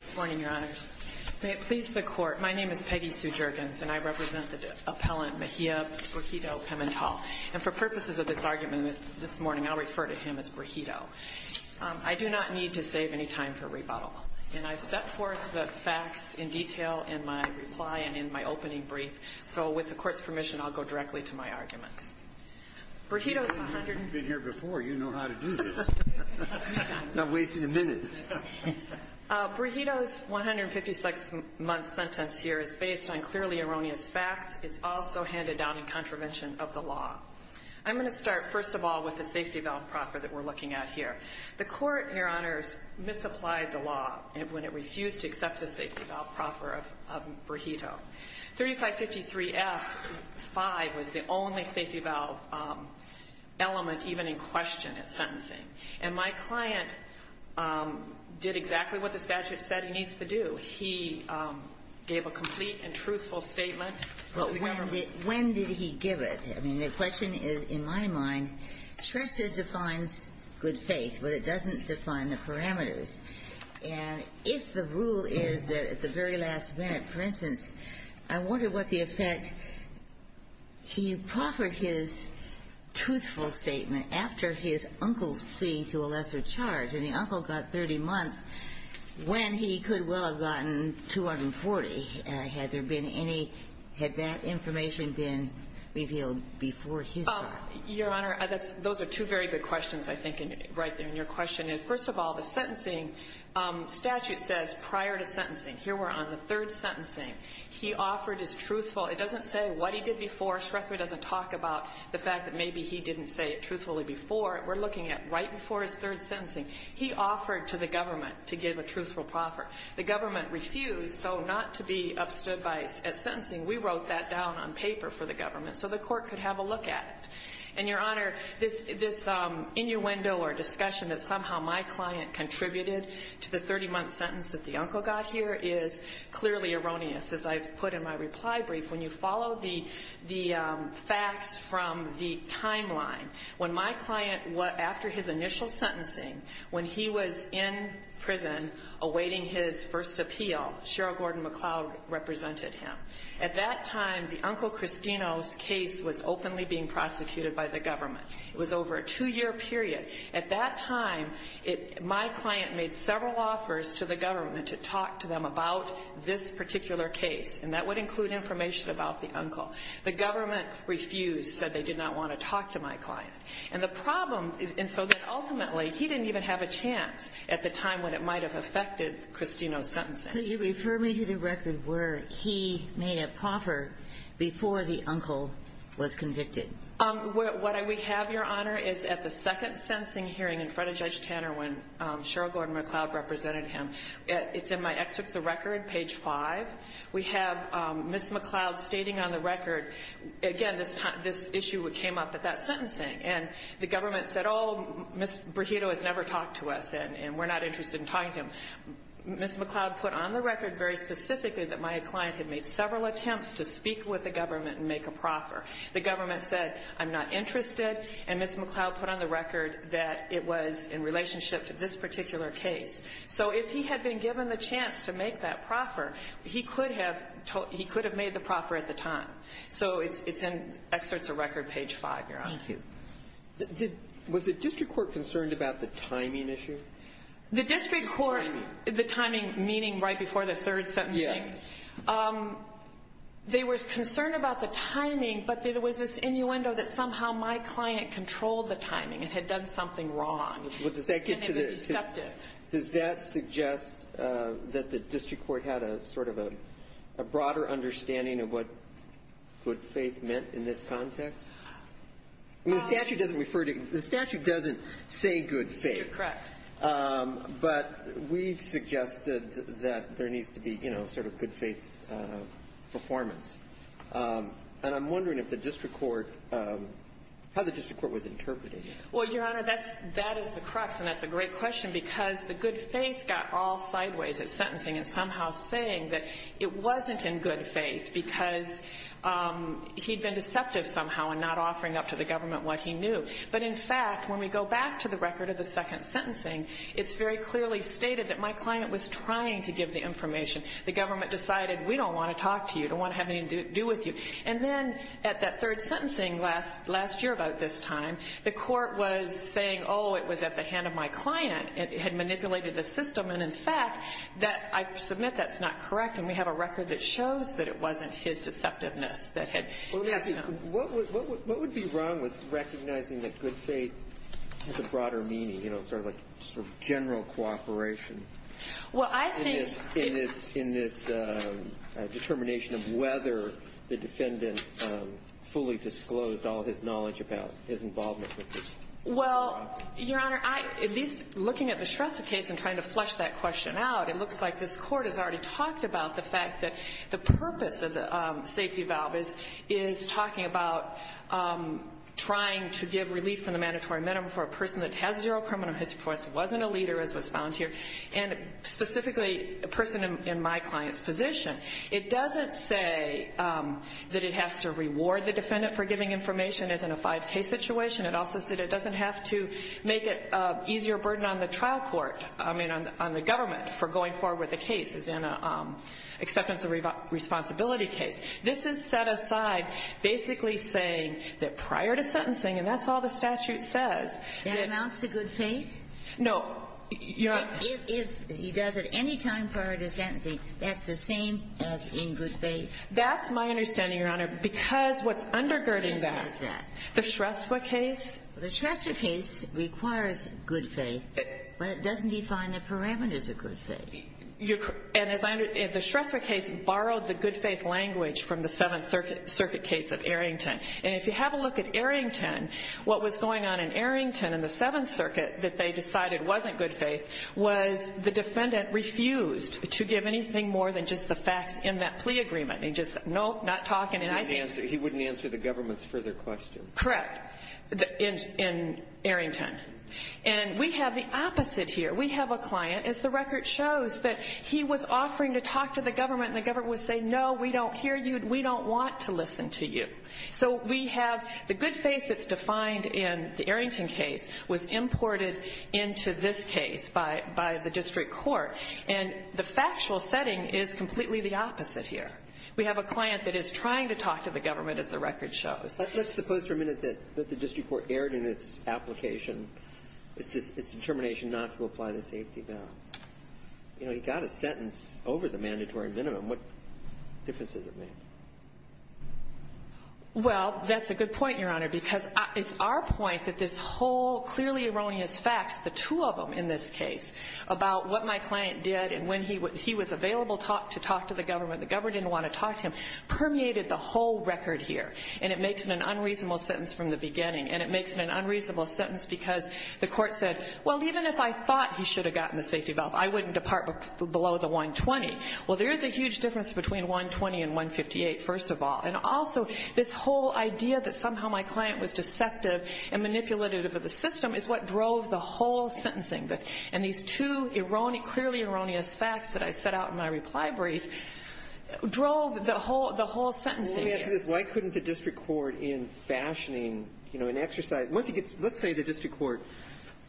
Good morning, Your Honors. May it please the Court, my name is Peggy Sue Juergens and I represent the appellant Mejia Brigido-Pimental. And for purposes of this argument this morning, I'll refer to him as Brigido. I do not need to save any time for rebuttal. And I've set forth the facts in detail in my reply and in my opening brief, so with the Court's permission, I'll go directly to my arguments. Brigido's 156-month sentence here is based on clearly erroneous facts. It's also handed down in contravention of the law. I'm going to start, first of all, with the safety valve proffer that we're looking at here. The Court, Your Honors, misapplied the law when it refused to accept the safety valve proffer of Brigido. 3553F-5 was the only safety valve element even in question at sentencing. And my client did exactly what the statute said he needs to do. He gave a complete and truthful statement. When did he give it? I mean, the question is, in my mind, SHREFSA defines good faith, but it doesn't define the parameters. And if the rule is that at the very last minute, for instance, I wonder what the effect he proffered his truthful statement after his uncle's plea to a lesser charge. And the uncle got 30 months when he could well have gotten 240. Had there been any – had that information been revealed before his trial? Your Honor, those are two very good questions, I think, right there in your question. And first of all, the sentencing statute says prior to sentencing, here we're on the third sentencing, he offered his truthful – it doesn't say what he did before. SHREFSA doesn't talk about the fact that maybe he didn't say it truthfully before. We're looking at right before his third sentencing, he offered to the government to give a truthful proffer. The government refused, so not to be upstood by – at sentencing, we wrote that down on paper for the government so the court could have a look at it. And, Your Honor, this innuendo or discussion that somehow my client contributed to the 30-month sentence that the uncle got here is clearly erroneous, as I've put in my reply brief. When you follow the facts from the timeline, when my client – after his initial sentencing, when he was in prison awaiting his first appeal, Sheryl Gordon McCloud represented him. At that time, the Uncle Cristino's case was openly being prosecuted by the government. It was over a two-year period. At that time, my client made several offers to the government to talk to them about this particular case, and that would include information about the uncle. The government refused, said they did not want to talk to my client. And the problem is – and so that ultimately, he didn't even have a chance at the time when it might have affected Cristino's sentencing. Could you refer me to the record where he made a proffer before the uncle was convicted? What we have, Your Honor, is at the second sentencing hearing in front of Judge Tanner when Sheryl Gordon McCloud represented him. It's in my excerpts of record, page 5. We have Ms. McCloud stating on the record – again, this issue came up at that sentencing. And the government said, oh, Ms. Burrito has never talked to us, and we're not interested in talking to him. Ms. McCloud put on the record very specifically that my client had made several attempts to speak with the government and make a proffer. The government said, I'm not interested. And Ms. McCloud put on the record that it was in relationship to this particular case. So if he had been given the chance to make that proffer, he could have made the proffer at the time. So it's in excerpts of record, page 5, Your Honor. Thank you. Was the district court concerned about the timing issue? The district court – the timing meaning right before the third sentencing? Yes. They were concerned about the timing, but there was this innuendo that somehow my client controlled the timing and had done something wrong. Well, does that get to the – And it was deceptive. Does that suggest that the district court had a sort of a broader understanding of what good faith meant in this context? The statute doesn't refer to – the statute doesn't say good faith. Correct. But we've suggested that there needs to be, you know, sort of good faith performance. And I'm wondering if the district court – how the district court was interpreting it. Well, Your Honor, that is the crux, and that's a great question, because the good faith got all sideways at sentencing and somehow saying that it wasn't in good faith because he'd been deceptive somehow in not offering up to the government what he knew. But in fact, when we go back to the record of the second sentencing, it's very clearly stated that my client was trying to give the information. The government decided we don't want to talk to you, don't want to have anything to do with you. And then at that third sentencing last year about this time, the court was saying, oh, it was at the hand of my client. It had manipulated the system. And in fact, that – I submit that's not correct, and we have a record that shows that it wasn't his deceptiveness that had happened. What would be wrong with recognizing that good faith has a broader meaning, sort of like general cooperation in this determination of whether the defendant fully disclosed all his knowledge about his involvement with this? Well, Your Honor, at least looking at the Shrestha case and trying to flush that question out, it looks like this court has already talked about the fact that the purpose of the safety valve is talking about trying to give relief from the mandatory minimum for a person that has zero criminal history reports, wasn't a leader as was found here, and specifically a person in my client's position. It doesn't say that it has to reward the defendant for giving information as in a 5K situation. It also said it doesn't have to make it an easier burden on the trial court, I mean on the government, for going forward with the case as in an acceptance of responsibility case. This is set aside basically saying that prior to sentencing, and that's all the statute says. That amounts to good faith? No. If he does it any time prior to sentencing, that's the same as in good faith? That's my understanding, Your Honor, because what's undergirding that, the Shrestha case. The Shrestha case requires good faith, but it doesn't define the parameters of good faith. The Shrestha case borrowed the good faith language from the Seventh Circuit case of Arrington. If you have a look at Arrington, what was going on in Arrington in the Seventh Circuit that they decided wasn't good faith was the defendant refused to give anything more than just the facts in that plea agreement. He just said, nope, not talking. He wouldn't answer the government's further question. Correct, in Arrington. And we have the opposite here. We have a client, as the record shows, that he was offering to talk to the government, and the government would say, no, we don't hear you, and we don't want to listen to you. So we have the good faith that's defined in the Arrington case was imported into this case by the district court, and the factual setting is completely the opposite here. We have a client that is trying to talk to the government, as the record shows. Let's suppose for a minute that the district court erred in its application, its determination not to apply the safety bound. You know, he got a sentence over the mandatory minimum. What difference does it make? Well, that's a good point, Your Honor, because it's our point that this whole clearly erroneous facts, the two of them in this case, about what my client did and when he was available to talk to the government, the government didn't want to talk to him, permeated the whole record here. And it makes it an unreasonable sentence from the beginning. And it makes it an unreasonable sentence because the court said, well, even if I thought he should have gotten the safety valve, I wouldn't depart below the 120. Well, there is a huge difference between 120 and 158, first of all. And also this whole idea that somehow my client was deceptive and manipulative of the system is what drove the whole sentencing. And these two clearly erroneous facts that I set out in my reply brief drove the whole sentencing. Well, let me ask you this. Why couldn't the district court in fashioning, you know, in exercise – once he gets – let's say the district court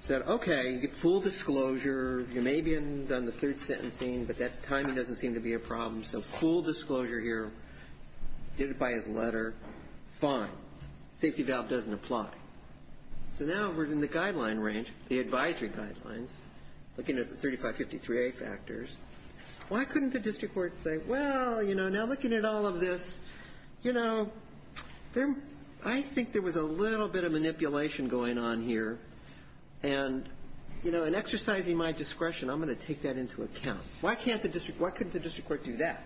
said, okay, you get full disclosure, you may have done the third sentencing, but that timing doesn't seem to be a problem, so full disclosure here, did it by his letter, fine. Safety valve doesn't apply. So now we're in the guideline range, the advisory guidelines, looking at the 3553A factors. Why couldn't the district court say, well, you know, now looking at all of this, you know, I think there was a little bit of manipulation going on here. And, you know, in exercising my discretion, I'm going to take that into account. Why can't the district – why couldn't the district court do that?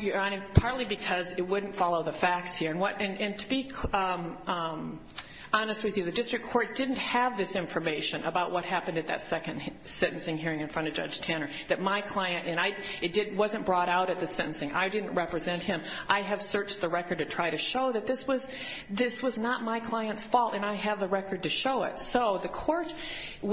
Your Honor, partly because it wouldn't follow the facts here. And to be honest with you, the district court didn't have this information about what happened at that second sentencing hearing in front of Judge Tanner, that my client – and I – it wasn't brought out at the sentencing. I didn't represent him. I have searched the record to try to show that this was – this was not my client's fault, and I have the record to show it. So the court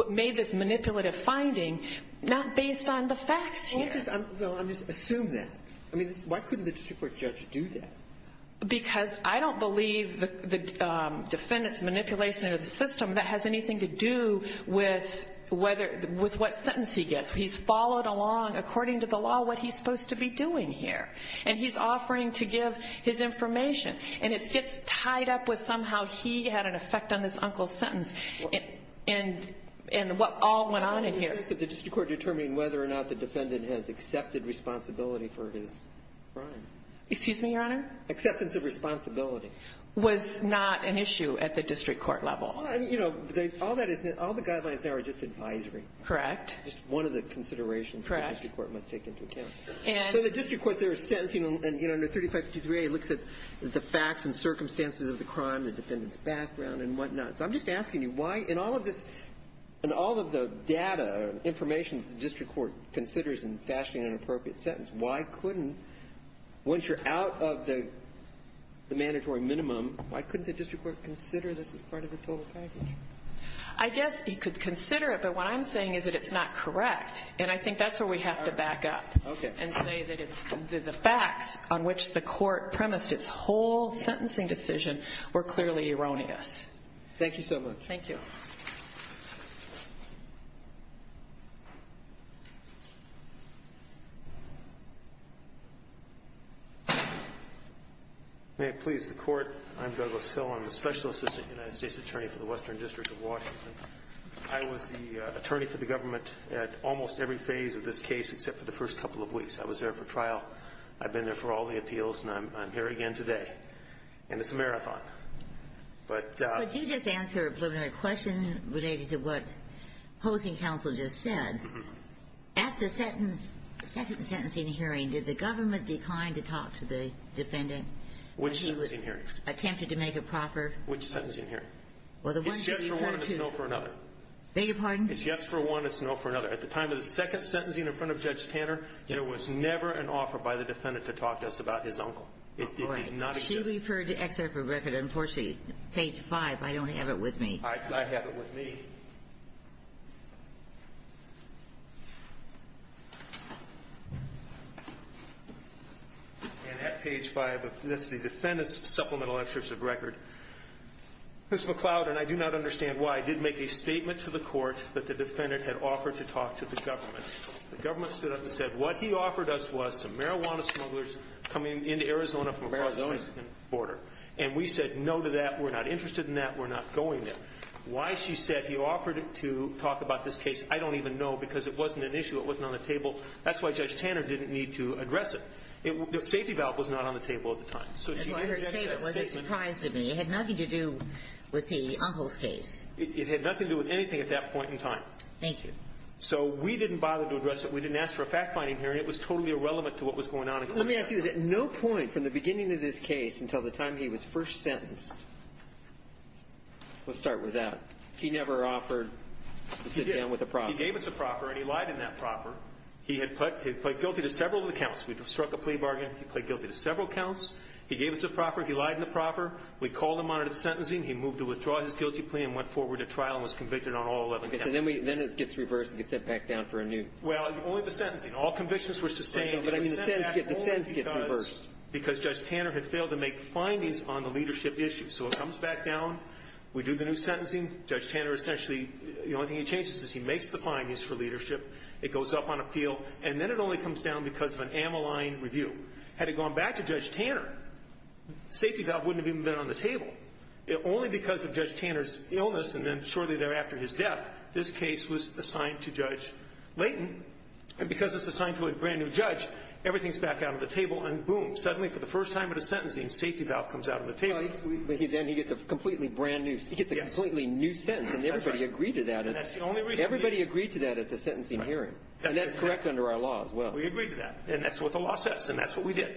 made this manipulative finding not based on the facts here. Well, I'm just – well, I'm just – assume that. I mean, why couldn't the district court judge do that? Because I don't believe the defendant's manipulation of the system, that has anything to do with whether – with what sentence he gets. He's followed along, according to the law, what he's supposed to be doing here. And he's offering to give his information. And it gets tied up with somehow he had an effect on this uncle's sentence and what all went on in here. How can you say that the district court determined whether or not the defendant has accepted responsibility for his crime? Excuse me, Your Honor? Acceptance of responsibility. Was not an issue at the district court level. Well, I mean, you know, all that is – all the guidelines there are just advisory. Correct. Just one of the considerations the district court must take into account. And – So the district court there is sentencing, and, you know, under 3553A, it looks at the facts and circumstances of the crime, the defendant's background and whatnot. So I'm just asking you why, in all of this – in all of the data, information the district court considers in fashioning an appropriate sentence, why couldn't – once you're out of the mandatory minimum, why couldn't the district court consider this as part of the total package? I guess you could consider it, but what I'm saying is that it's not correct. And I think that's where we have to back up. Okay. And say that the facts on which the court premised its whole sentencing decision were clearly erroneous. Thank you so much. Thank you. May it please the court. I'm Douglas Hill. I'm the special assistant United States attorney for the Western District of Washington. I was the attorney for the government at almost every phase of this case except for the first couple of weeks. I was there for trial. I've been there for all the appeals, and I'm here again today. And it's a marathon. But – Let me answer a preliminary question related to what hosting counsel just said. At the second sentencing hearing, did the government decline to talk to the defendant? Which sentencing hearing? When she attempted to make a proffer? Which sentencing hearing? Well, the one she referred to. It's yes for one, it's no for another. Beg your pardon? It's yes for one, it's no for another. At the time of the second sentencing in front of Judge Tanner, there was never an offer by the defendant to talk to us about his uncle. It did not exist. She referred to excerpt of record. Unfortunately, page 5, I don't have it with me. I have it with me. And at page 5, this is the defendant's supplemental excerpt of record. Ms. McLeod, and I do not understand why, did make a statement to the court that the defendant had offered to talk to the government. The government stood up and said what he offered us was some marijuana smugglers coming into Arizona from Arizona. And we said no to that. We're not interested in that. We're not going there. Why she said he offered to talk about this case, I don't even know, because it wasn't an issue. It wasn't on the table. That's why Judge Tanner didn't need to address it. The safety valve was not on the table at the time. So she didn't make that statement. That's why I heard you say it. It wasn't a surprise to me. It had nothing to do with the uncle's case. It had nothing to do with anything at that point in time. Thank you. So we didn't bother to address it. We didn't ask for a fact-finding hearing. It was totally irrelevant to what was going on. Let me ask you this. At no point from the beginning of this case until the time he was first sentenced, let's start with that. He never offered to sit down with a proffer. He gave us a proffer, and he lied in that proffer. He had pled guilty to several of the counts. We struck a plea bargain. He pled guilty to several counts. He gave us a proffer. He lied in the proffer. We called him on it at sentencing. He moved to withdraw his guilty plea and went forward to trial and was convicted on all 11 counts. And then it gets reversed and gets set back down for a new. Well, only the sentencing. All convictions were sustained. But the sentence gets reversed. Because Judge Tanner had failed to make findings on the leadership issue. So it comes back down. We do the new sentencing. Judge Tanner essentially, the only thing he changes is he makes the findings for leadership. It goes up on appeal. And then it only comes down because of an ammaline review. Had it gone back to Judge Tanner, safety valve wouldn't have even been on the table. Only because of Judge Tanner's illness and then shortly thereafter his death, this case was assigned to Judge Layton. And because it's assigned to a brand-new judge, everything's back out on the table. And boom, suddenly for the first time at a sentencing, safety valve comes out on the table. But then he gets a completely brand-new, he gets a completely new sentence. And everybody agreed to that. And that's the only reason. Everybody agreed to that at the sentencing hearing. And that's correct under our law as well. We agreed to that. And that's what the law says. And that's what we did.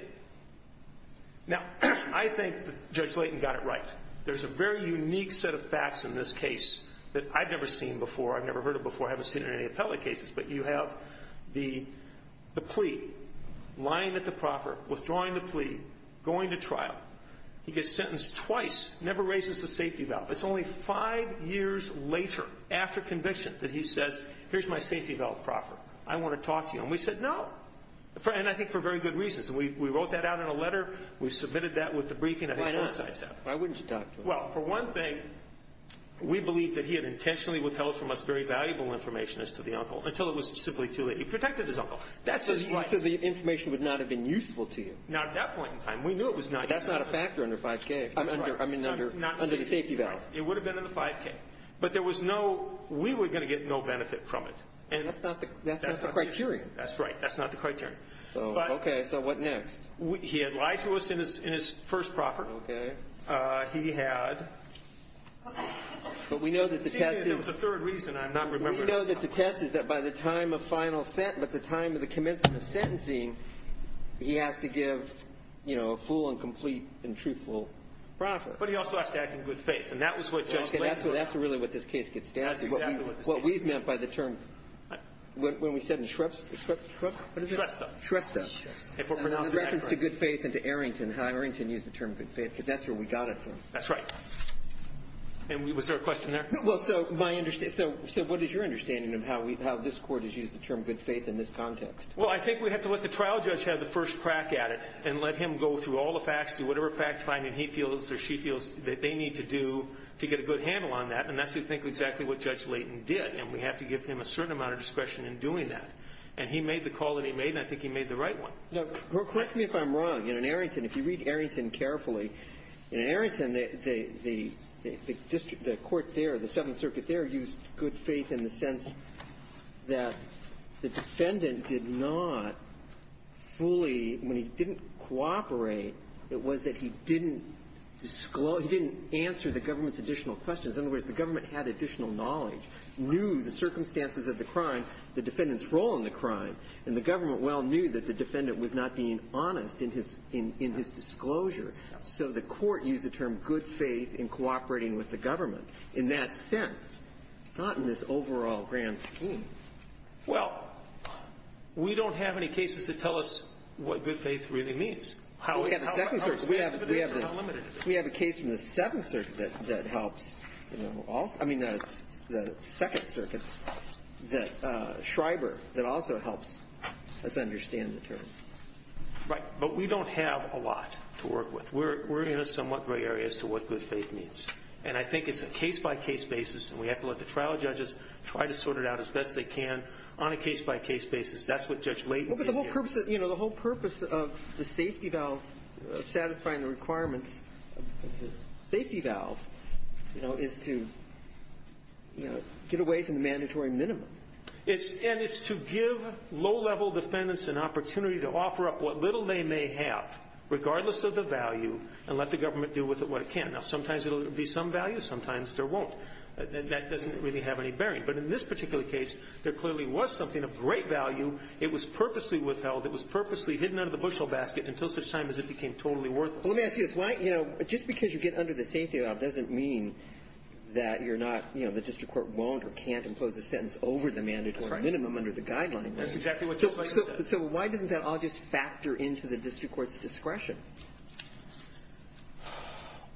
Now, I think Judge Layton got it right. There's a very unique set of facts in this case that I've never seen before, I've never heard of before, I haven't seen it in any appellate cases. But you have the plea, lying at the proffer, withdrawing the plea, going to trial. He gets sentenced twice, never raises the safety valve. It's only five years later after conviction that he says, here's my safety valve proffer. I want to talk to you. And we said no. And I think for very good reasons. And we wrote that out in a letter. We submitted that with the briefing. Why wouldn't you talk to him? Well, for one thing, we believed that he had intentionally withheld from us very valuable information as to the uncle, until it was simply too late. He protected his uncle. So the information would not have been useful to you? Not at that point in time. We knew it was not useful. That's not a factor under 5K. I mean under the safety valve. It would have been under 5K. But there was no, we were going to get no benefit from it. That's not the criterion. That's right. That's not the criterion. Okay. So what next? He had lied to us in his first proffer. Okay. He had. But we know that the test is. It seems there was a third reason. I'm not remembering. We know that the test is that by the time of final sentence, by the time of the commencement of sentencing, he has to give, you know, a full and complete and truthful proffer. But he also has to act in good faith. And that was what Judge Blake said. Okay. That's really what this case gets down to. That's exactly what this case gets down to. What we've meant by the term. What? When we said in Shreffs. Shreffs? Shrestha. Shrestha. In reference to good faith and to Arrington. And how Arrington used the term good faith. Because that's where we got it from. That's right. And was there a question there? Well, so my. So what is your understanding of how this Court has used the term good faith in this context? Well, I think we have to let the trial judge have the first crack at it. And let him go through all the facts. Do whatever fact finding he feels or she feels that they need to do to get a good handle on that. And that's, I think, exactly what Judge Layton did. And we have to give him a certain amount of discretion in doing that. And he made the call that he made. And I think he made the right one. Correct me if I'm wrong. In Arrington, if you read Arrington carefully, in Arrington, the district, the court there, the Seventh Circuit there, used good faith in the sense that the defendant did not fully, when he didn't cooperate, it was that he didn't disclose, he didn't answer the government's additional questions. In other words, the government had additional knowledge, knew the circumstances of the crime, the defendant's role in the crime. And the government well knew that the defendant was not being honest in his disclosure. So the court used the term good faith in cooperating with the government. In that sense, not in this overall grand scheme. Well, we don't have any cases that tell us what good faith really means, how expensive it is or how limited it is. We have a case from the Seventh Circuit that helps. I mean, the Second Circuit, Schreiber, that also helps us understand the term. Right. But we don't have a lot to work with. We're in a somewhat gray area as to what good faith means. And I think it's a case-by-case basis, and we have to let the trial judges try to sort it out as best they can on a case-by-case basis. That's what Judge Layton did here. Well, but the whole purpose of the safety valve satisfying the requirements of the safety valve, you know, is to, you know, get away from the mandatory minimum. And it's to give low-level defendants an opportunity to offer up what little they may have, regardless of the value, and let the government do with it what it can. Now, sometimes it will be some value, sometimes there won't. That doesn't really have any bearing. But in this particular case, there clearly was something of great value. It was purposely withheld. It was purposely hidden out of the bushel basket until such time as it became totally worth it. Well, let me ask you this. Why, you know, just because you get under the safety valve doesn't mean that you're not, you know, the district court won't or can't impose a sentence over the mandatory minimum under the guidelines. That's exactly what Judge Layton said. So why doesn't that all just factor into the district court's discretion?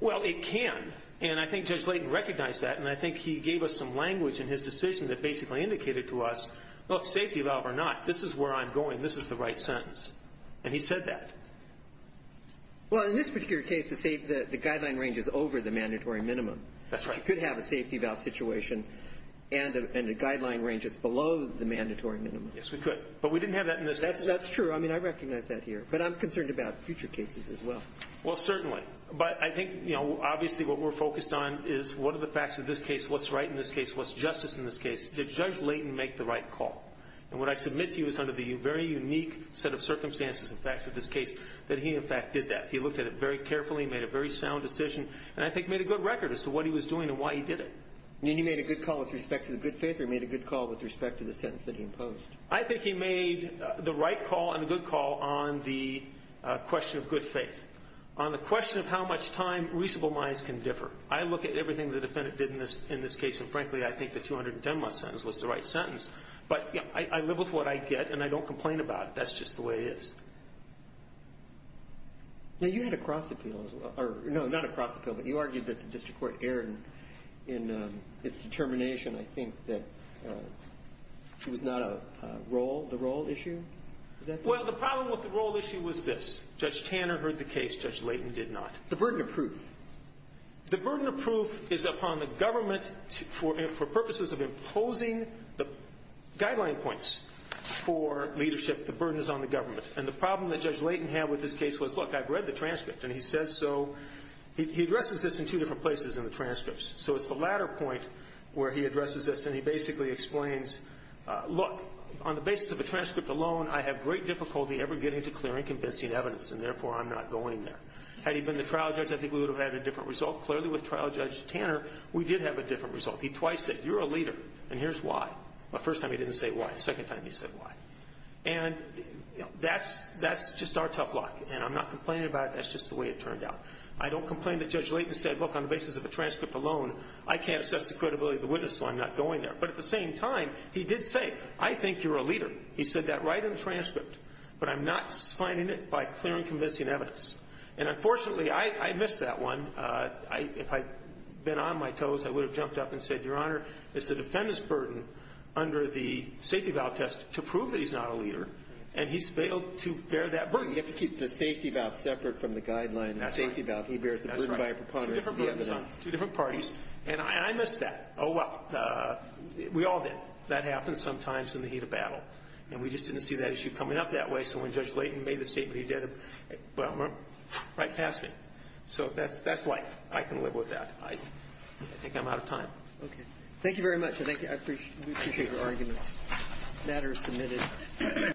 Well, it can. And I think Judge Layton recognized that, and I think he gave us some language in his decision that basically indicated to us, look, safety valve or not, this is where I'm going, this is the right sentence. And he said that. Well, in this particular case, the guideline range is over the mandatory minimum. That's right. But you could have a safety valve situation and a guideline range that's below the mandatory minimum. Yes, we could. But we didn't have that in this case. That's true. I mean, I recognize that here. But I'm concerned about future cases as well. Well, certainly. But I think, you know, obviously what we're focused on is what are the facts of this case, what's right in this case, what's justice in this case. Did Judge Layton make the right call? And what I submit to you is under the very unique set of circumstances and facts of this case, that he, in fact, did that. He looked at it very carefully, made a very sound decision, and I think made a good record as to what he was doing and why he did it. You mean he made a good call with respect to the good faith, or he made a good call with respect to the sentence that he imposed? I think he made the right call and a good call on the question of good faith. On the question of how much time reasonable minds can differ. I look at everything the defendant did in this case, and frankly, I think the 210-month sentence was the right sentence. But, you know, I live with what I get, and I don't complain about it. That's just the way it is. Now, you had a cross appeal as well. No, not a cross appeal, but you argued that the district court erred in its determination, I think, that it was not a role, the role issue. Well, the problem with the role issue was this. Judge Tanner heard the case. Judge Layton did not. The burden of proof. The burden of proof is upon the government for purposes of imposing the guideline points for leadership. The burden is on the government. And the problem that Judge Layton had with this case was, look, I've read the transcript, and he says so. He addresses this in two different places in the transcripts. So it's the latter point where he addresses this, and he basically explains, look, on the basis of a transcript alone, I have great difficulty ever getting to clear and convincing evidence, and therefore I'm not going there. Had he been the trial judge, I think we would have had a different result. Clearly with trial Judge Tanner, we did have a different result. He twice said, you're a leader, and here's why. The first time he didn't say why. The second time he said why. And that's just our tough luck, and I'm not complaining about it. That's just the way it turned out. I don't complain that Judge Layton said, look, on the basis of a transcript alone, I can't assess the credibility of the witness, so I'm not going there. But at the same time, he did say, I think you're a leader. He said that right in the transcript. But I'm not finding it by clear and convincing evidence. And unfortunately, I missed that one. If I had been on my toes, I would have jumped up and said, Your Honor, it's the defendant's burden under the safety valve test to prove that he's not a leader, and he's failed to bear that burden. You have to keep the safety valve separate from the guideline. That's right. The safety valve, he bears the burden by a preponderance at the end of that. That's right. Two different parties. And I missed that. Oh, well, we all did. That happens sometimes in the heat of battle. And we just didn't see that issue coming up that way. So when Judge Layton made the statement, he did it right past me. So that's life. I can live with that. I think I'm out of time. Okay. Thank you very much. I appreciate your argument. The matter is submitted.